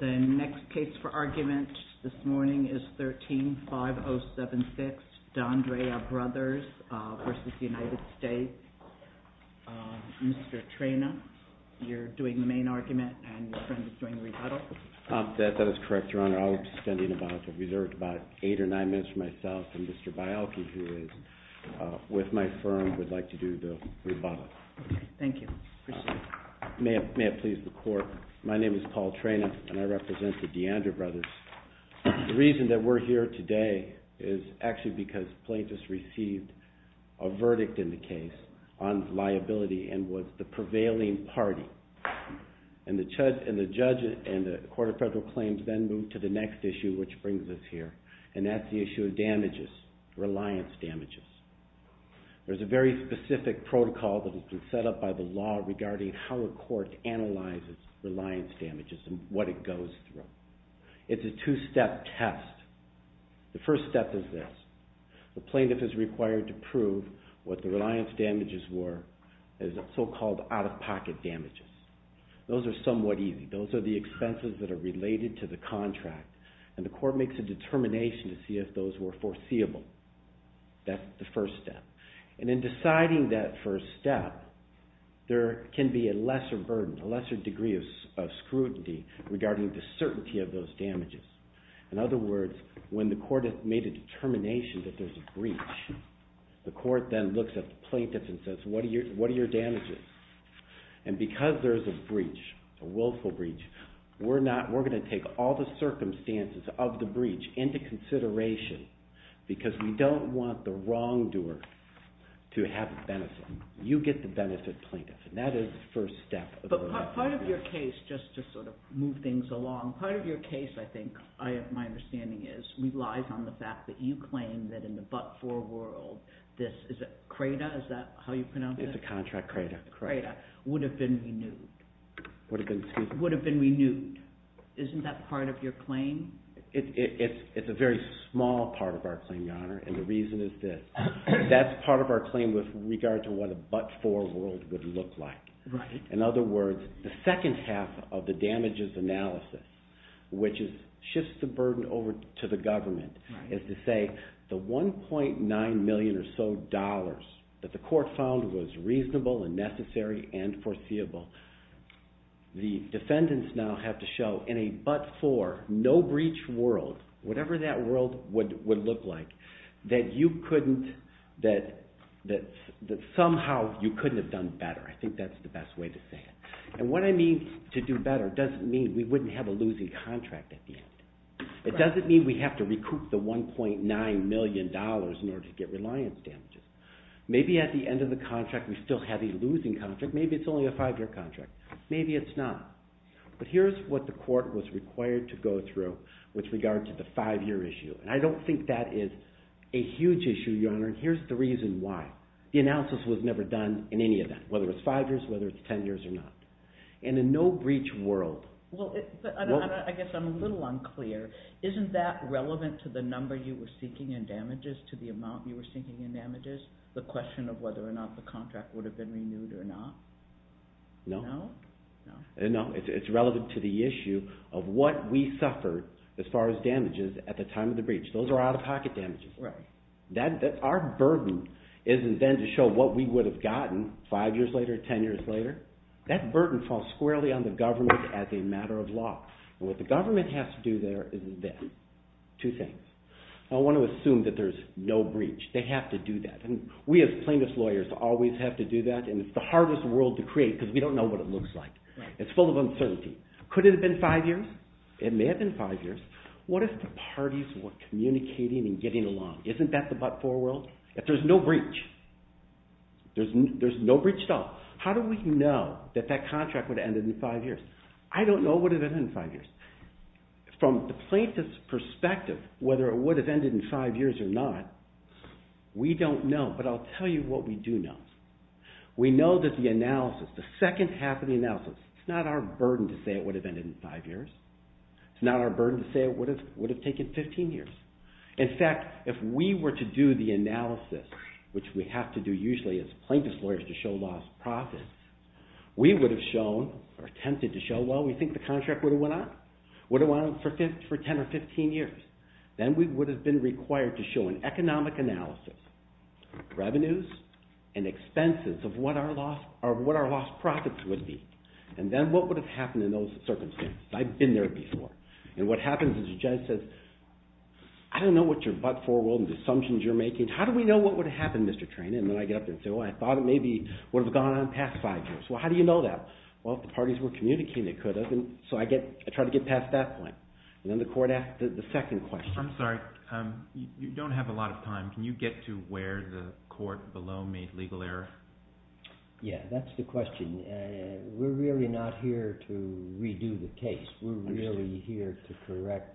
The next case for argument this morning is 13-5076 D'ANDREA BROTHERS v. United States. Mr. Trena, you're doing the main argument and your friend is doing the rebuttal. That is correct, Your Honor. I was standing about eight or nine minutes from myself and Mr. Bialky, who is with my firm, would like to do the rebuttal. Thank you. May it please the Court, my name is Paul Trena and I represent the D'ANDREA BROTHERS. The reason that we're here today is actually because plaintiffs received a verdict in the case on liability and was the prevailing party. And the judge and the Court of Federal Claims then moved to the next issue, which brings us here, and that's the issue of damages, reliance damages. There's a very specific protocol that has been set up by the law regarding how a court analyzes reliance damages and what it goes through. It's a two-step test. The first step is this. The plaintiff is required to prove what the reliance damages were as so-called out-of-pocket damages. Those are somewhat easy. Those are the expenses that are related to the contract and the court makes a determination to see if those were foreseeable. That's the first step. And in deciding that first step, there can be a lesser burden, a lesser degree of scrutiny regarding the certainty of those damages. In other words, when the court has made a determination that there's a breach, the court then looks at the plaintiff and says, what are your damages? And because there's a breach, a willful breach, we're going to take all the circumstances of the breach into consideration because we don't want the wrongdoer to have the benefit. You get the benefit, plaintiff, and that is the first step. But part of your case, just to sort of move things along, part of your case, I think, my understanding is, relies on the fact that you claim that in the but-for world, this is a crater, is that how you pronounce it? It's a contract crater. Crater. Would have been renewed. Would have been, excuse me. Would have been renewed. Isn't that part of your claim? It's a very small part of our claim, Your Honor, and the reason is that that's part of our claim with regard to what a but-for world would look like. Right. In other words, the second half of the damages analysis, which shifts the burden over to the government, is to say the $1.9 million or so that the court found was reasonable and necessary and foreseeable, the defendants now have to show in a but-for, no-breach world, whatever that world would look like, that somehow you couldn't have done better. I think that's the best way to say it. And what I mean to do better doesn't mean we wouldn't have a losing contract at the end. It doesn't mean we have to recoup the $1.9 million in order to get reliance damages. Maybe at the end of the contract we still have a losing contract. Maybe it's only a five-year contract. Maybe it's not. But here's what the court was required to go through with regard to the five-year issue, and I don't think that is a huge issue, Your Honor, and here's the reason why. The analysis was never done in any event, whether it's five years, whether it's ten years or not. And in a no-breach world… Well, I guess I'm a little unclear. Isn't that relevant to the number you were seeking in damages, to the amount you were seeking in damages, the question of whether or not the contract would have been renewed or not? No. No? No. It's relevant to the issue of what we suffered as far as damages at the time of the breach. Those are out-of-pocket damages. Right. Our burden isn't then to show what we would have gotten five years later, ten years later. That burden falls squarely on the government as a matter of law. And what the government has to do there is this. Two things. I want to assume that there's no breach. They have to do that. And we as plaintiff's lawyers always have to do that, and it's the hardest world to create because we don't know what it looks like. It's full of uncertainty. Could it have been five years? It may have been five years. What if the parties were communicating and getting along? Isn't that the but-for world? If there's no breach, there's no breach at all, how do we know that that contract would have ended in five years? I don't know it would have ended in five years. From the plaintiff's perspective, whether it would have ended in five years or not, we don't know. But I'll tell you what we do know. We know that the analysis, the second half of the analysis, it's not our burden to say it would have ended in five years. It's not our burden to say it would have taken 15 years. In fact, if we were to do the analysis, which we have to do usually as plaintiff's lawyers to show lost profits, we would have shown or attempted to show, well, we think the contract would have went on for 10 or 15 years. Then we would have been required to show an economic analysis, revenues and expenses of what our lost profits would be. And then what would have happened in those circumstances? I've been there before. And what happens is the judge says, I don't know what your but-for world and the assumptions you're making. How do we know what would have happened, Mr. Trena? And then I get up there and say, well, I thought it maybe would have gone on past five years. Well, how do you know that? Well, if the parties were communicating, it could have. And so I try to get past that point. And then the court asks the second question. I'm sorry, you don't have a lot of time. Can you get to where the court below made legal error? Yeah, that's the question. We're really not here to redo the case. We're really here to correct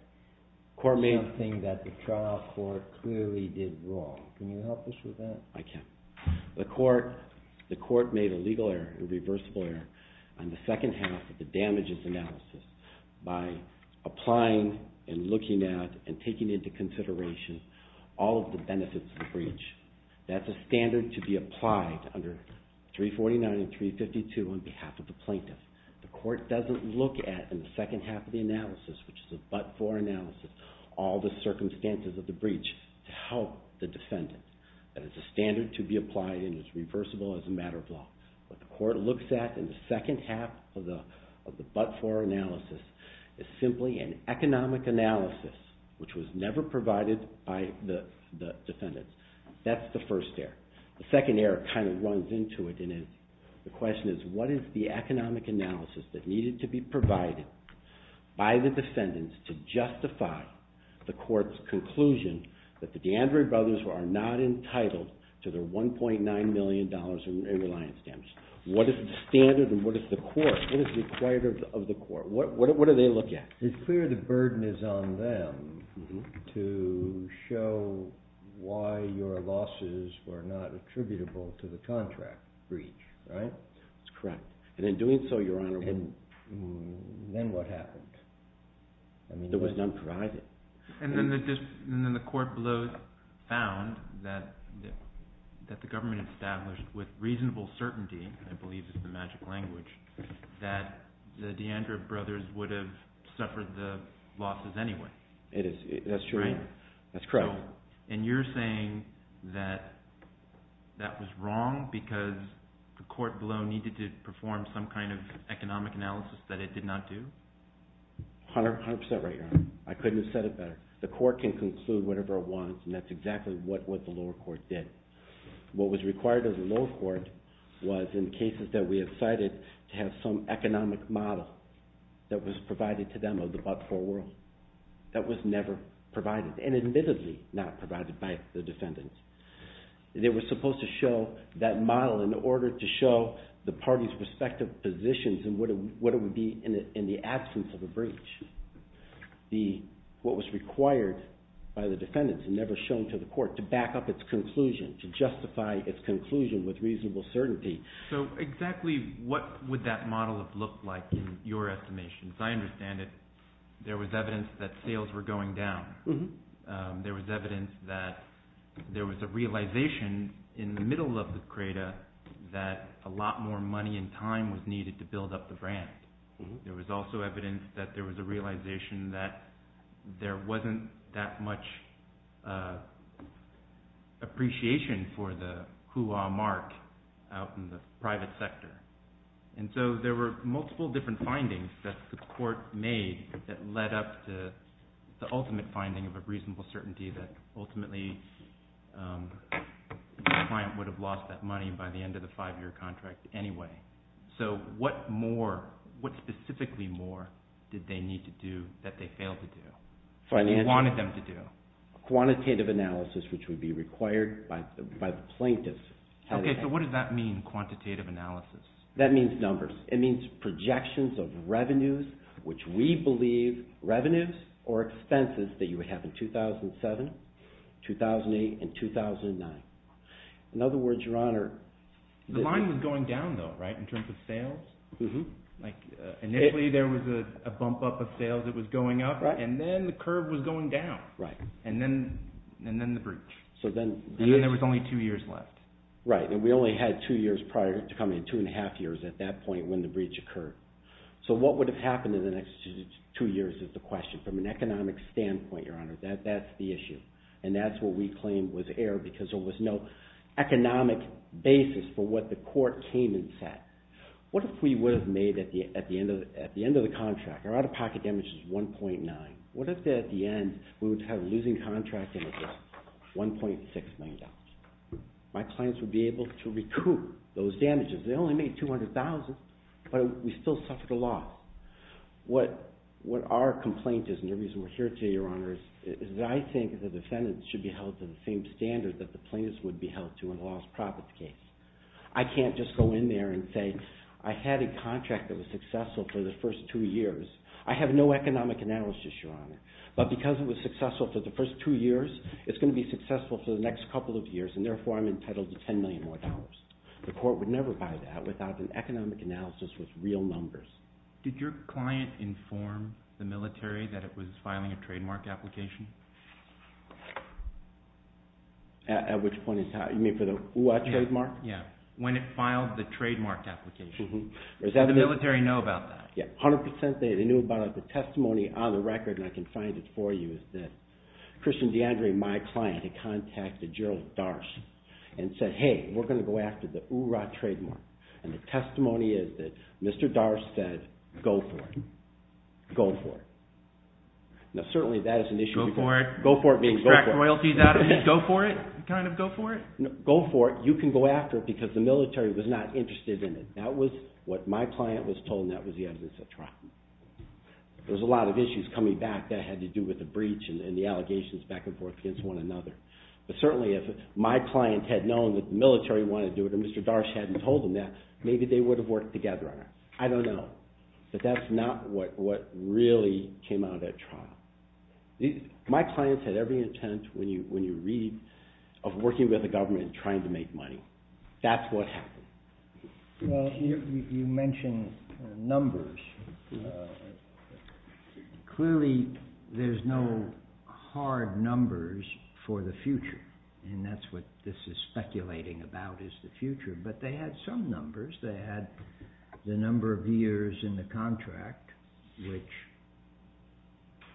something that the trial court clearly did wrong. Can you help us with that? I can. The court made a legal error, a reversible error, on the second half of the damages analysis by applying and looking at and taking into consideration all of the benefits of the breach. That's a standard to be applied under 349 and 352 on behalf of the plaintiff. The court doesn't look at, in the second half of the analysis, which is a but-for analysis, all the circumstances of the breach to help the defendant. That is a standard to be applied and is reversible as a matter of law. What the court looks at in the second half of the but-for analysis is simply an economic analysis, which was never provided by the defendants. That's the first error. The second error kind of runs into it, and the question is, what is the economic analysis that needed to be provided by the defendants to justify the court's conclusion that the DeAndre brothers are not entitled to their $1.9 million in reliance damages? What is the standard and what is the court? What is required of the court? What do they look at? It's clear the burden is on them to show why your losses were not attributable to the contract breach, right? That's correct. And in doing so, Your Honor, what happened? It was not provided. And then the court found that the government established with reasonable certainty, I believe is the magic language, that the DeAndre brothers would have suffered the losses anyway. That's true. Right? That's correct. And you're saying that that was wrong because the court below needed to perform some kind of economic analysis that it did not do? 100% right, Your Honor. I couldn't have said it better. The court can conclude whatever it wants, and that's exactly what the lower court did. What was required of the lower court was, in cases that we have cited, to have some economic model that was provided to them of the but-for world. That was never provided, and admittedly not provided by the defendants. They were supposed to show that model in order to show the parties' respective positions and what it would be in the absence of a breach. What was required by the defendants and never shown to the court to back up its conclusion, to justify its conclusion with reasonable certainty. So exactly what would that model have looked like in your estimation? As I understand it, there was evidence that sales were going down. There was evidence that there was a realization in the middle of the creda that a lot more money and time was needed to build up the brand. There was also evidence that there was a realization that there wasn't that much appreciation for the hooah mark out in the private sector. And so there were multiple different findings that the court made that led up to the ultimate finding of a reasonable certainty that ultimately the client would have lost that money by the end of the five-year contract anyway. So what more, what specifically more did they need to do that they failed to do? What they wanted them to do. Quantitative analysis, which would be required by the plaintiffs. Okay, so what does that mean, quantitative analysis? That means numbers. It means projections of revenues, which we believe revenues or expenses that you would have in 2007, 2008, and 2009. In other words, Your Honor. The line was going down though, right, in terms of sales? Initially there was a bump up of sales that was going up, and then the curve was going down. Right. And then the breach. And then there was only two years left. Right, and we only had two years prior to coming, two and a half years at that point when the breach occurred. So what would have happened in the next two years is the question. From an economic standpoint, Your Honor, that's the issue. And that's what we claim was error because there was no economic basis for what the court came and said. What if we would have made at the end of the contract, our out-of-pocket damage is 1.9. What if at the end we would have losing contract damages, $1.6 million? My clients would be able to recoup those damages. They only made $200,000, but we still suffered a lot. What our complaint is, and the reason we're here today, Your Honor, is that I think the defendants should be held to the same standard that the plaintiffs would be held to in a loss-profit case. I can't just go in there and say I had a contract that was successful for the first two years. I have no economic analysis, Your Honor, but because it was successful for the first two years, it's going to be successful for the next couple of years, and therefore I'm entitled to $10 million more. The court would never buy that without an economic analysis with real numbers. Did your client inform the military that it was filing a trademark application? At which point is how? You mean for the URA trademark? Yeah, when it filed the trademark application. Did the military know about that? Yeah, 100 percent they knew about it. The testimony on the record, and I can find it for you, is that Christian DeAndre, my client, had contacted Gerald Darst and said, hey, we're going to go after the URA trademark. And the testimony is that Mr. Darst said, go for it. Go for it. Now certainly that is an issue. Go for it? Go for it means go for it. Extract royalties out of it? Go for it? Kind of go for it? No, go for it. You can go after it because the military was not interested in it. That was what my client was told, and that was the evidence at trial. There was a lot of issues coming back that had to do with the breach and the allegations back and forth against one another. But certainly if my client had known that the military wanted to do it or Mr. Darst hadn't told them that, maybe they would have worked together on it. I don't know, but that's not what really came out at trial. My clients had every intent, when you read, of working with the government and trying to make money. That's what happened. Well, you mentioned numbers. Clearly there's no hard numbers for the future, and that's what this is speculating about is the future. But they had some numbers. They had the number of years in the contract, which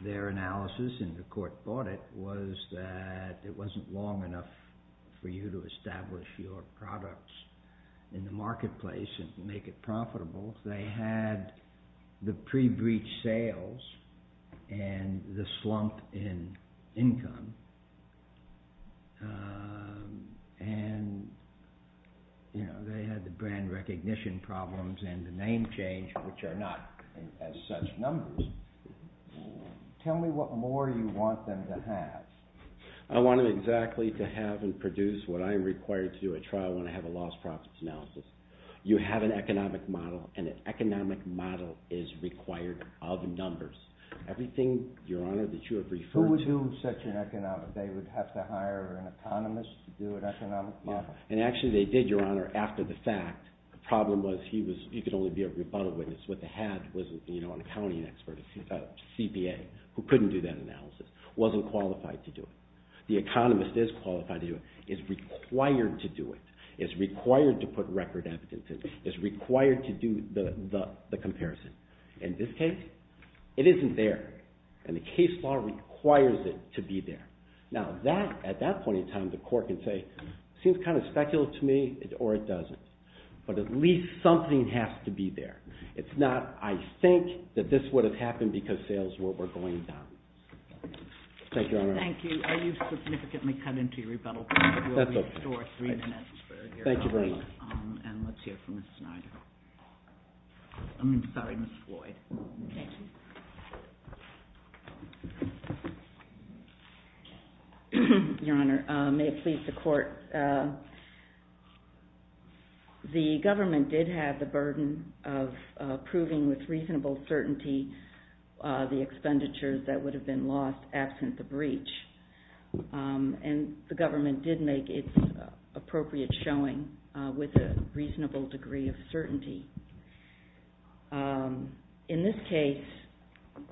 their analysis, and the court bought it, was that it wasn't long enough for you to establish your products in the marketplace and make it profitable. They had the pre-breach sales and the slump in income. They had the brand recognition problems and the name change, which are not as such numbers. Tell me what more you want them to have. I want them exactly to have and produce what I am required to do at trial when I have a lost profits analysis. You have an economic model, and an economic model is required of numbers. Everything, Your Honor, that you have referred to… Who would do such an economic…they would have to hire an economist to do an economic model? And actually they did, Your Honor, after the fact. The problem was you could only be a rebuttal witness. What they had was an accounting expert, a CPA, who couldn't do that analysis, wasn't qualified to do it. The economist is qualified to do it, is required to do it, is required to put record evidence in, is required to do the comparison. In this case, it isn't there, and the case law requires it to be there. Now, at that point in time, the court can say, it seems kind of speculative to me, or it doesn't. But at least something has to be there. It's not, I think, that this would have happened because sales were going down. Thank you, Your Honor. Thank you. You've significantly cut into your rebuttal time. That's okay. We'll restore three minutes. Thank you very much. And let's hear from Ms. Snyder. I mean, sorry, Ms. Floyd. Okay. Your Honor, may it please the Court. The government did have the burden of proving with reasonable certainty the expenditures that would have been lost absent the breach. And the government did make its appropriate showing with a reasonable degree of certainty. In this case,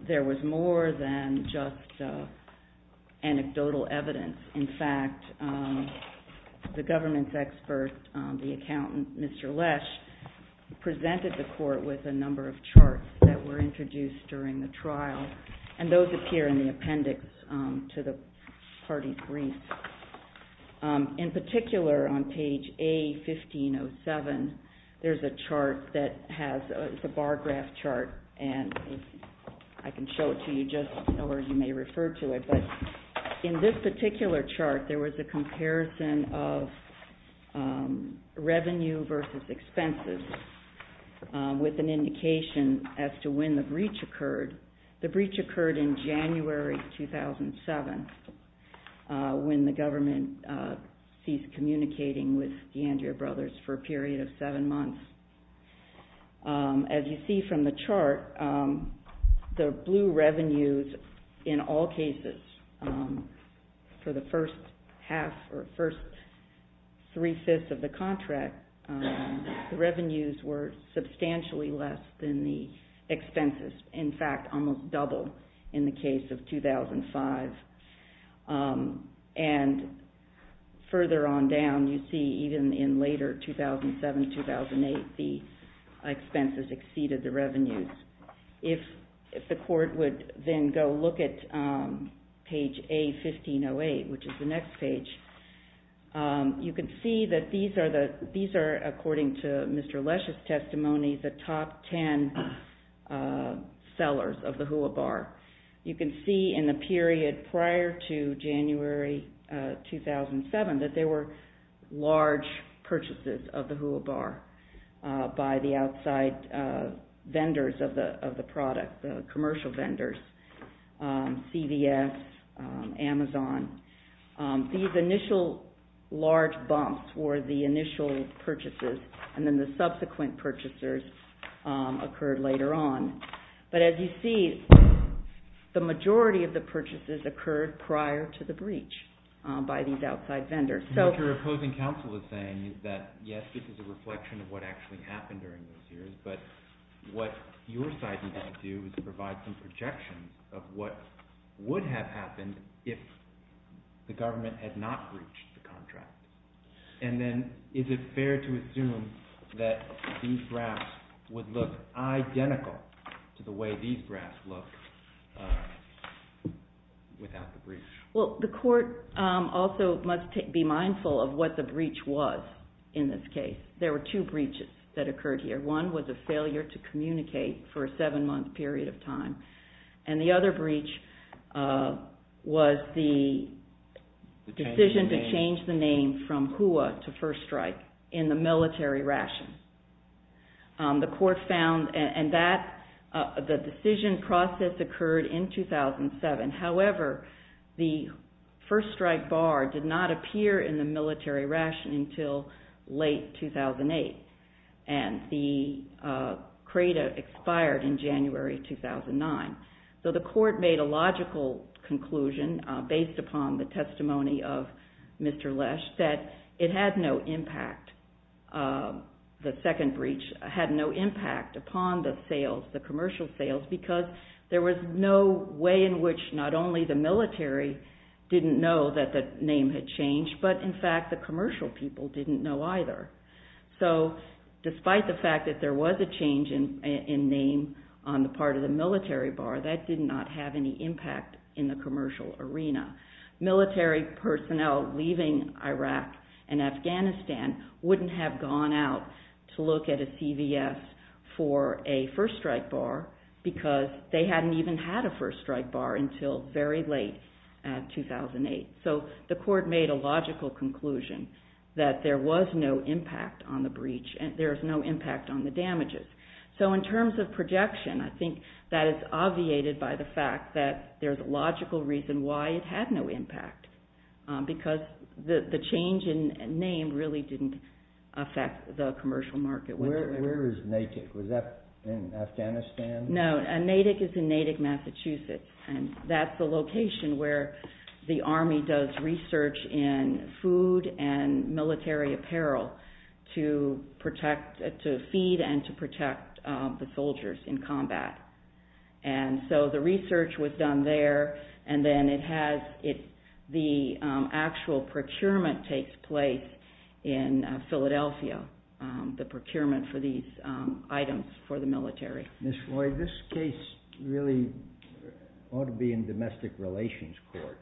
there was more than just anecdotal evidence. In fact, the government's expert, the accountant, Mr. Lesch, presented the Court with a number of charts that were introduced during the trial. And those appear in the appendix to the party brief. In particular, on page A-1507, there's a chart that has a bar graph chart, and I can show it to you just so you may refer to it. But in this particular chart, there was a comparison of revenue versus expenses with an indication as to when the breach occurred. The breach occurred in January 2007 when the government ceased communicating with the Andrea Brothers for a period of seven months. As you see from the chart, the blue revenues in all cases for the first half or first three-fifths of the contract, the revenues were substantially less than the expenses. In fact, almost double in the case of 2005. And further on down, you see even in later 2007-2008, the expenses exceeded the revenues. If the Court would then go look at page A-1508, which is the next page, you can see that these are, according to Mr. Lesch's testimony, the top ten sellers of the HUA Bar. You can see in the period prior to January 2007 that there were large purchases of the HUA Bar by the outside vendors of the product, the commercial vendors, CVS, Amazon. These initial large bumps were the initial purchases, and then the subsequent purchasers occurred later on. But as you see, the majority of the purchases occurred prior to the breach by these outside vendors. What your opposing counsel is saying is that, yes, this is a reflection of what actually happened during those years, but what your side needs to do is provide some projection of what would have happened if the government had not breached the contract. And then is it fair to assume that these graphs would look identical to the way these graphs look without the breach? Well, the Court also must be mindful of what the breach was in this case. There were two breaches that occurred here. One was a failure to communicate for a seven-month period of time. And the other breach was the decision to change the name from HUA to First Strike in the military ration. The Court found that the decision process occurred in 2007. However, the First Strike Bar did not appear in the military ration until late 2008. And the CRADA expired in January 2009. So the Court made a logical conclusion based upon the testimony of Mr. Lesh that it had no impact, the second breach had no impact upon the sales, the commercial sales, because there was no way in which not only the military didn't know that the name had changed, but in fact the commercial people didn't know either. So despite the fact that there was a change in name on the part of the military bar, that did not have any impact in the commercial arena. Military personnel leaving Iraq and Afghanistan wouldn't have gone out to look at a CVS for a First Strike Bar because they hadn't even had a First Strike Bar until very late in 2008. So the Court made a logical conclusion that there was no impact on the breach, there was no impact on the damages. So in terms of projection, I think that is obviated by the fact that there's a logical reason why it had no impact, because the change in name really didn't affect the commercial market. Where is Natick? Was that in Afghanistan? No, Natick is in Natick, Massachusetts, and that's the location where the Army does research in food and military apparel to feed and to protect the soldiers in combat. And so the research was done there, and then the actual procurement takes place in Philadelphia, the procurement for these items for the military. Ms. Floyd, this case really ought to be in domestic relations court.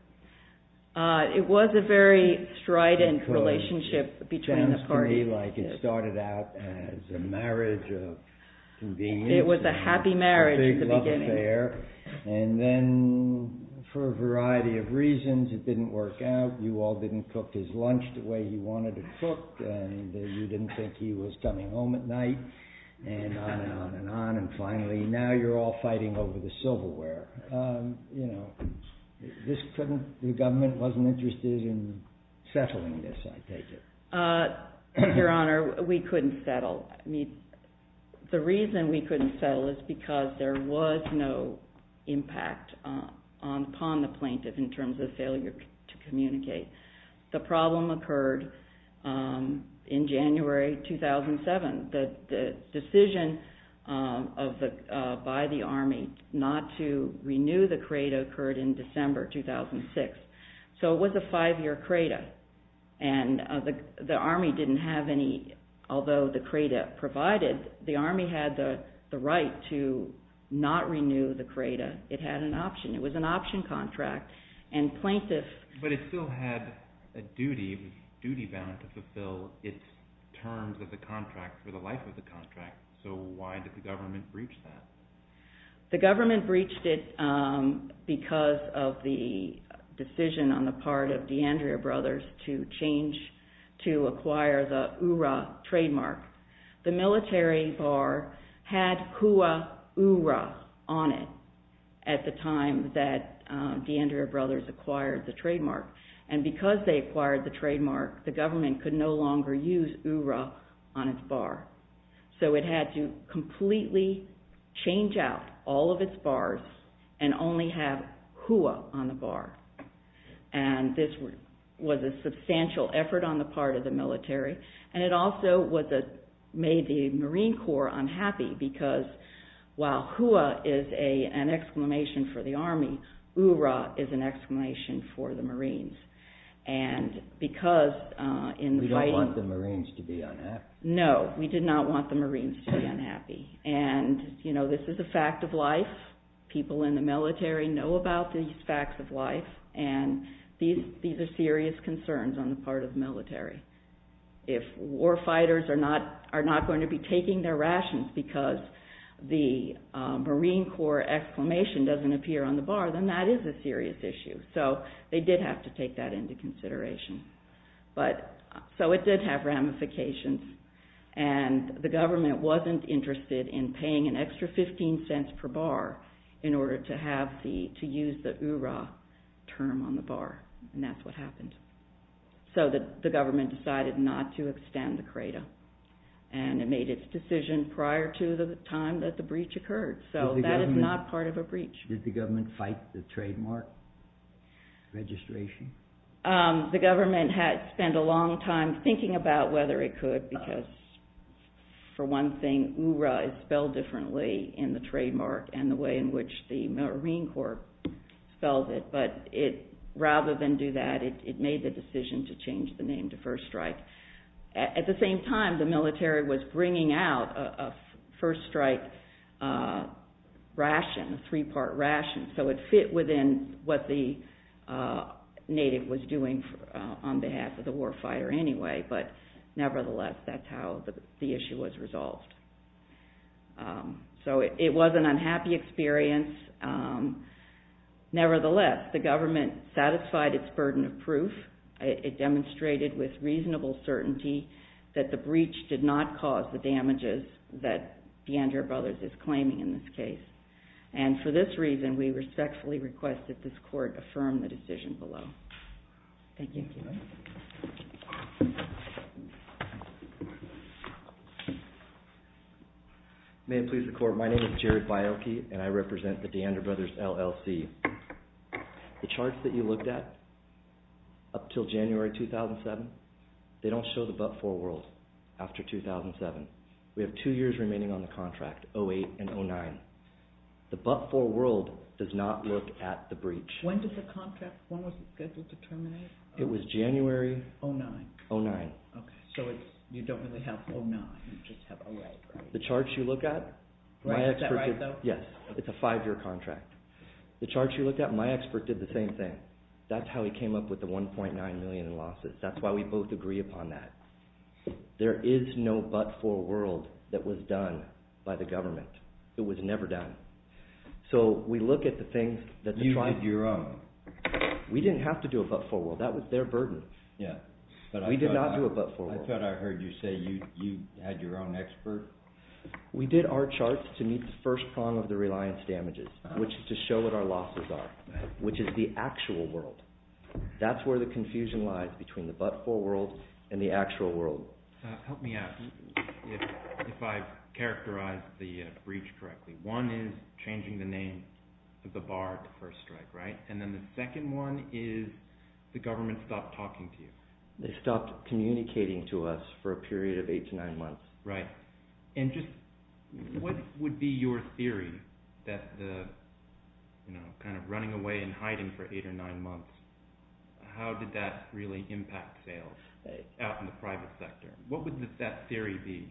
It was a very strident relationship between the parties. It sounds to me like it started out as a marriage of convenience. It was a happy marriage at the beginning. A big love affair, and then for a variety of reasons it didn't work out. You all didn't cook his lunch the way he wanted it cooked, and you didn't think he was coming home at night, and on and on and on. And finally, now you're all fighting over the silverware. The government wasn't interested in settling this, I take it. Your Honor, we couldn't settle. The reason we couldn't settle is because there was no impact upon the plaintiff in terms of failure to communicate. The problem occurred in January 2007. The decision by the Army not to renew the CRADA occurred in December 2006. So it was a five-year CRADA, and the Army didn't have any, although the CRADA provided, the Army had the right to not renew the CRADA. It had an option. It was an option contract, and plaintiffs... had a duty bound to fulfill its terms of the contract for the life of the contract, so why did the government breach that? The government breached it because of the decision on the part of DeAndrea Brothers to change, to acquire the URA trademark. The military bar had Kua URA on it at the time that DeAndrea Brothers acquired the trademark, and because they acquired the trademark, the government could no longer use URA on its bar. So it had to completely change out all of its bars and only have Kua on the bar, and this was a substantial effort on the part of the military, and it also made the Marine Corps unhappy because while Kua is an exclamation for the Army, URA is an exclamation for the Marines, and because in fighting... We don't want the Marines to be unhappy. No, we did not want the Marines to be unhappy, and this is a fact of life. People in the military know about these facts of life, and these are serious concerns on the part of the military. If war fighters are not going to be taking their rations because the Marine Corps exclamation doesn't appear on the bar, then that is a serious issue. So they did have to take that into consideration. So it did have ramifications, and the government wasn't interested in paying an extra 15 cents per bar in order to use the URA term on the bar, and that's what happened. So the government decided not to extend the CRADA, and it made its decision prior to the time that the breach occurred. So that is not part of a breach. Did the government fight the trademark registration? The government had spent a long time thinking about whether it could because for one thing URA is spelled differently in the trademark and the way in which the Marine Corps spells it, but rather than do that, it made the decision to change the name to First Strike. At the same time, the military was bringing out a First Strike ration, a three-part ration, so it fit within what the native was doing on behalf of the war fighter anyway, but nevertheless that's how the issue was resolved. So it was an unhappy experience. It demonstrated with reasonable certainty that the breach did not cause the damages that DeAndre Brothers is claiming in this case, and for this reason we respectfully request that this court affirm the decision below. Thank you. May it please the court, my name is Jared Bioki, and I represent the DeAndre Brothers LLC. The charts that you looked at up until January 2007, they don't show the but-for world after 2007. We have two years remaining on the contract, 08 and 09. The but-for world does not look at the breach. When did the contract, when was it scheduled to terminate? It was January 09. So you don't really have 09, you just have 08. The charts you look at, my expert did, yes, it's a five-year contract. The charts you looked at, my expert did the same thing. That's how he came up with the $1.9 million in losses. That's why we both agree upon that. There is no but-for world that was done by the government. It was never done. So we look at the things that the tribe, You did your own. We didn't have to do a but-for world, that was their burden. We did not do a but-for world. I thought I heard you say you had your own expert. We did our charts to meet the first prong of the reliance damages, which is to show what our losses are, which is the actual world. That's where the confusion lies between the but-for world and the actual world. Help me out if I've characterized the breach correctly. One is changing the name of the bar at the first strike, right? And then the second one is the government stopped talking to you. They stopped communicating to us for a period of eight to nine months. Right. And just what would be your theory that the kind of running away and hiding for eight or nine months, how did that really impact sales out in the private sector? What would that theory be?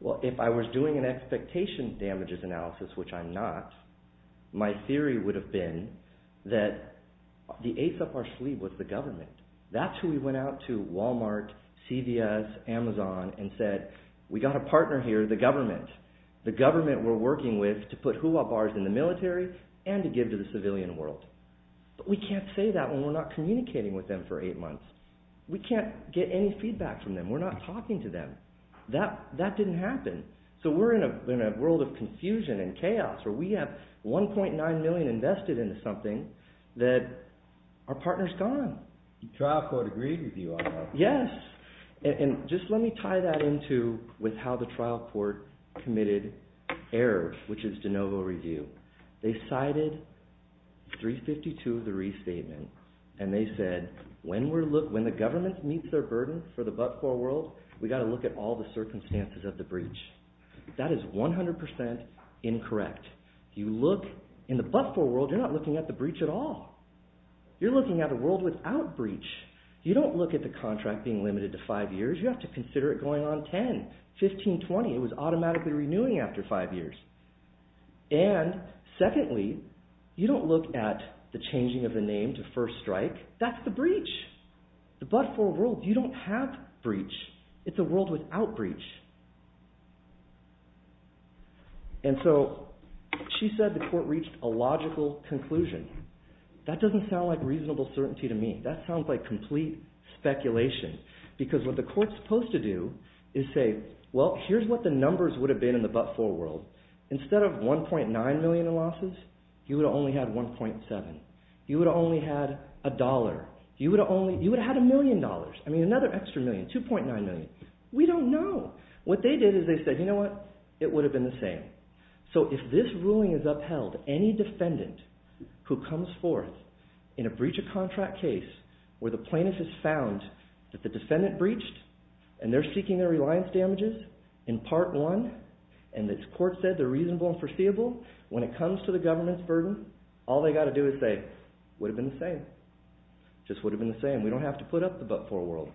Well, if I was doing an expectation damages analysis, which I'm not, my theory would have been that the ace up our sleeve was the government. That's who we went out to, Walmart, CVS, Amazon, and said, we've got a partner here, the government. The government we're working with to put hula bars in the military and to give to the civilian world. But we can't say that when we're not communicating with them for eight months. We can't get any feedback from them. We're not talking to them. That didn't happen. So we're in a world of confusion and chaos where we have 1.9 million invested into something that our partner's gone. The trial court agreed with you on that. Yes. And just let me tie that into how the trial court committed error, which is de novo review. They cited 352 of the restatement, and they said, when the government meets their burden for the but-for world, we've got to look at all the circumstances of the breach. That is 100% incorrect. In the but-for world, you're not looking at the breach at all. You're looking at a world without breach. You don't look at the contract being limited to five years. You have to consider it going on 10, 15, 20. It was automatically renewing after five years. And secondly, you don't look at the changing of the name to First Strike. That's the breach. The but-for world, you don't have breach. It's a world without breach. And so she said the court reached a logical conclusion. That doesn't sound like reasonable certainty to me. That sounds like complete speculation, because what the court's supposed to do is say, well, here's what the numbers would have been in the but-for world. Instead of 1.9 million in losses, you would have only had 1.7. You would have only had a dollar. You would have had a million dollars. I mean, another extra million, 2.9 million. We don't know. What they did is they said, you know what? It would have been the same. So if this ruling is upheld, any defendant who comes forth in a breach of contract case where the plaintiff has found that the defendant breached and they're seeking their reliance damages in Part 1 and the court said they're reasonable and foreseeable, when it comes to the government's burden, all they've got to do is say, would have been the same. Just would have been the same. We don't have to put up the but-for world.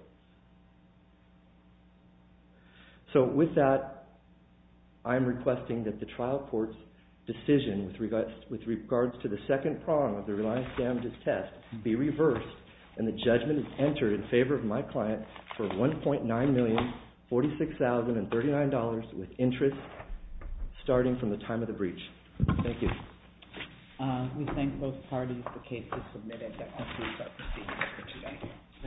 So with that, I'm requesting that the trial court's decision with regards to the second prong of the reliance damages test be reversed and the judgment is entered in favor of my client for $1.9 million, $46,039 with interest starting from the time of the breach. Thank you. We thank both parties for cases submitted. That concludes our proceedings for today.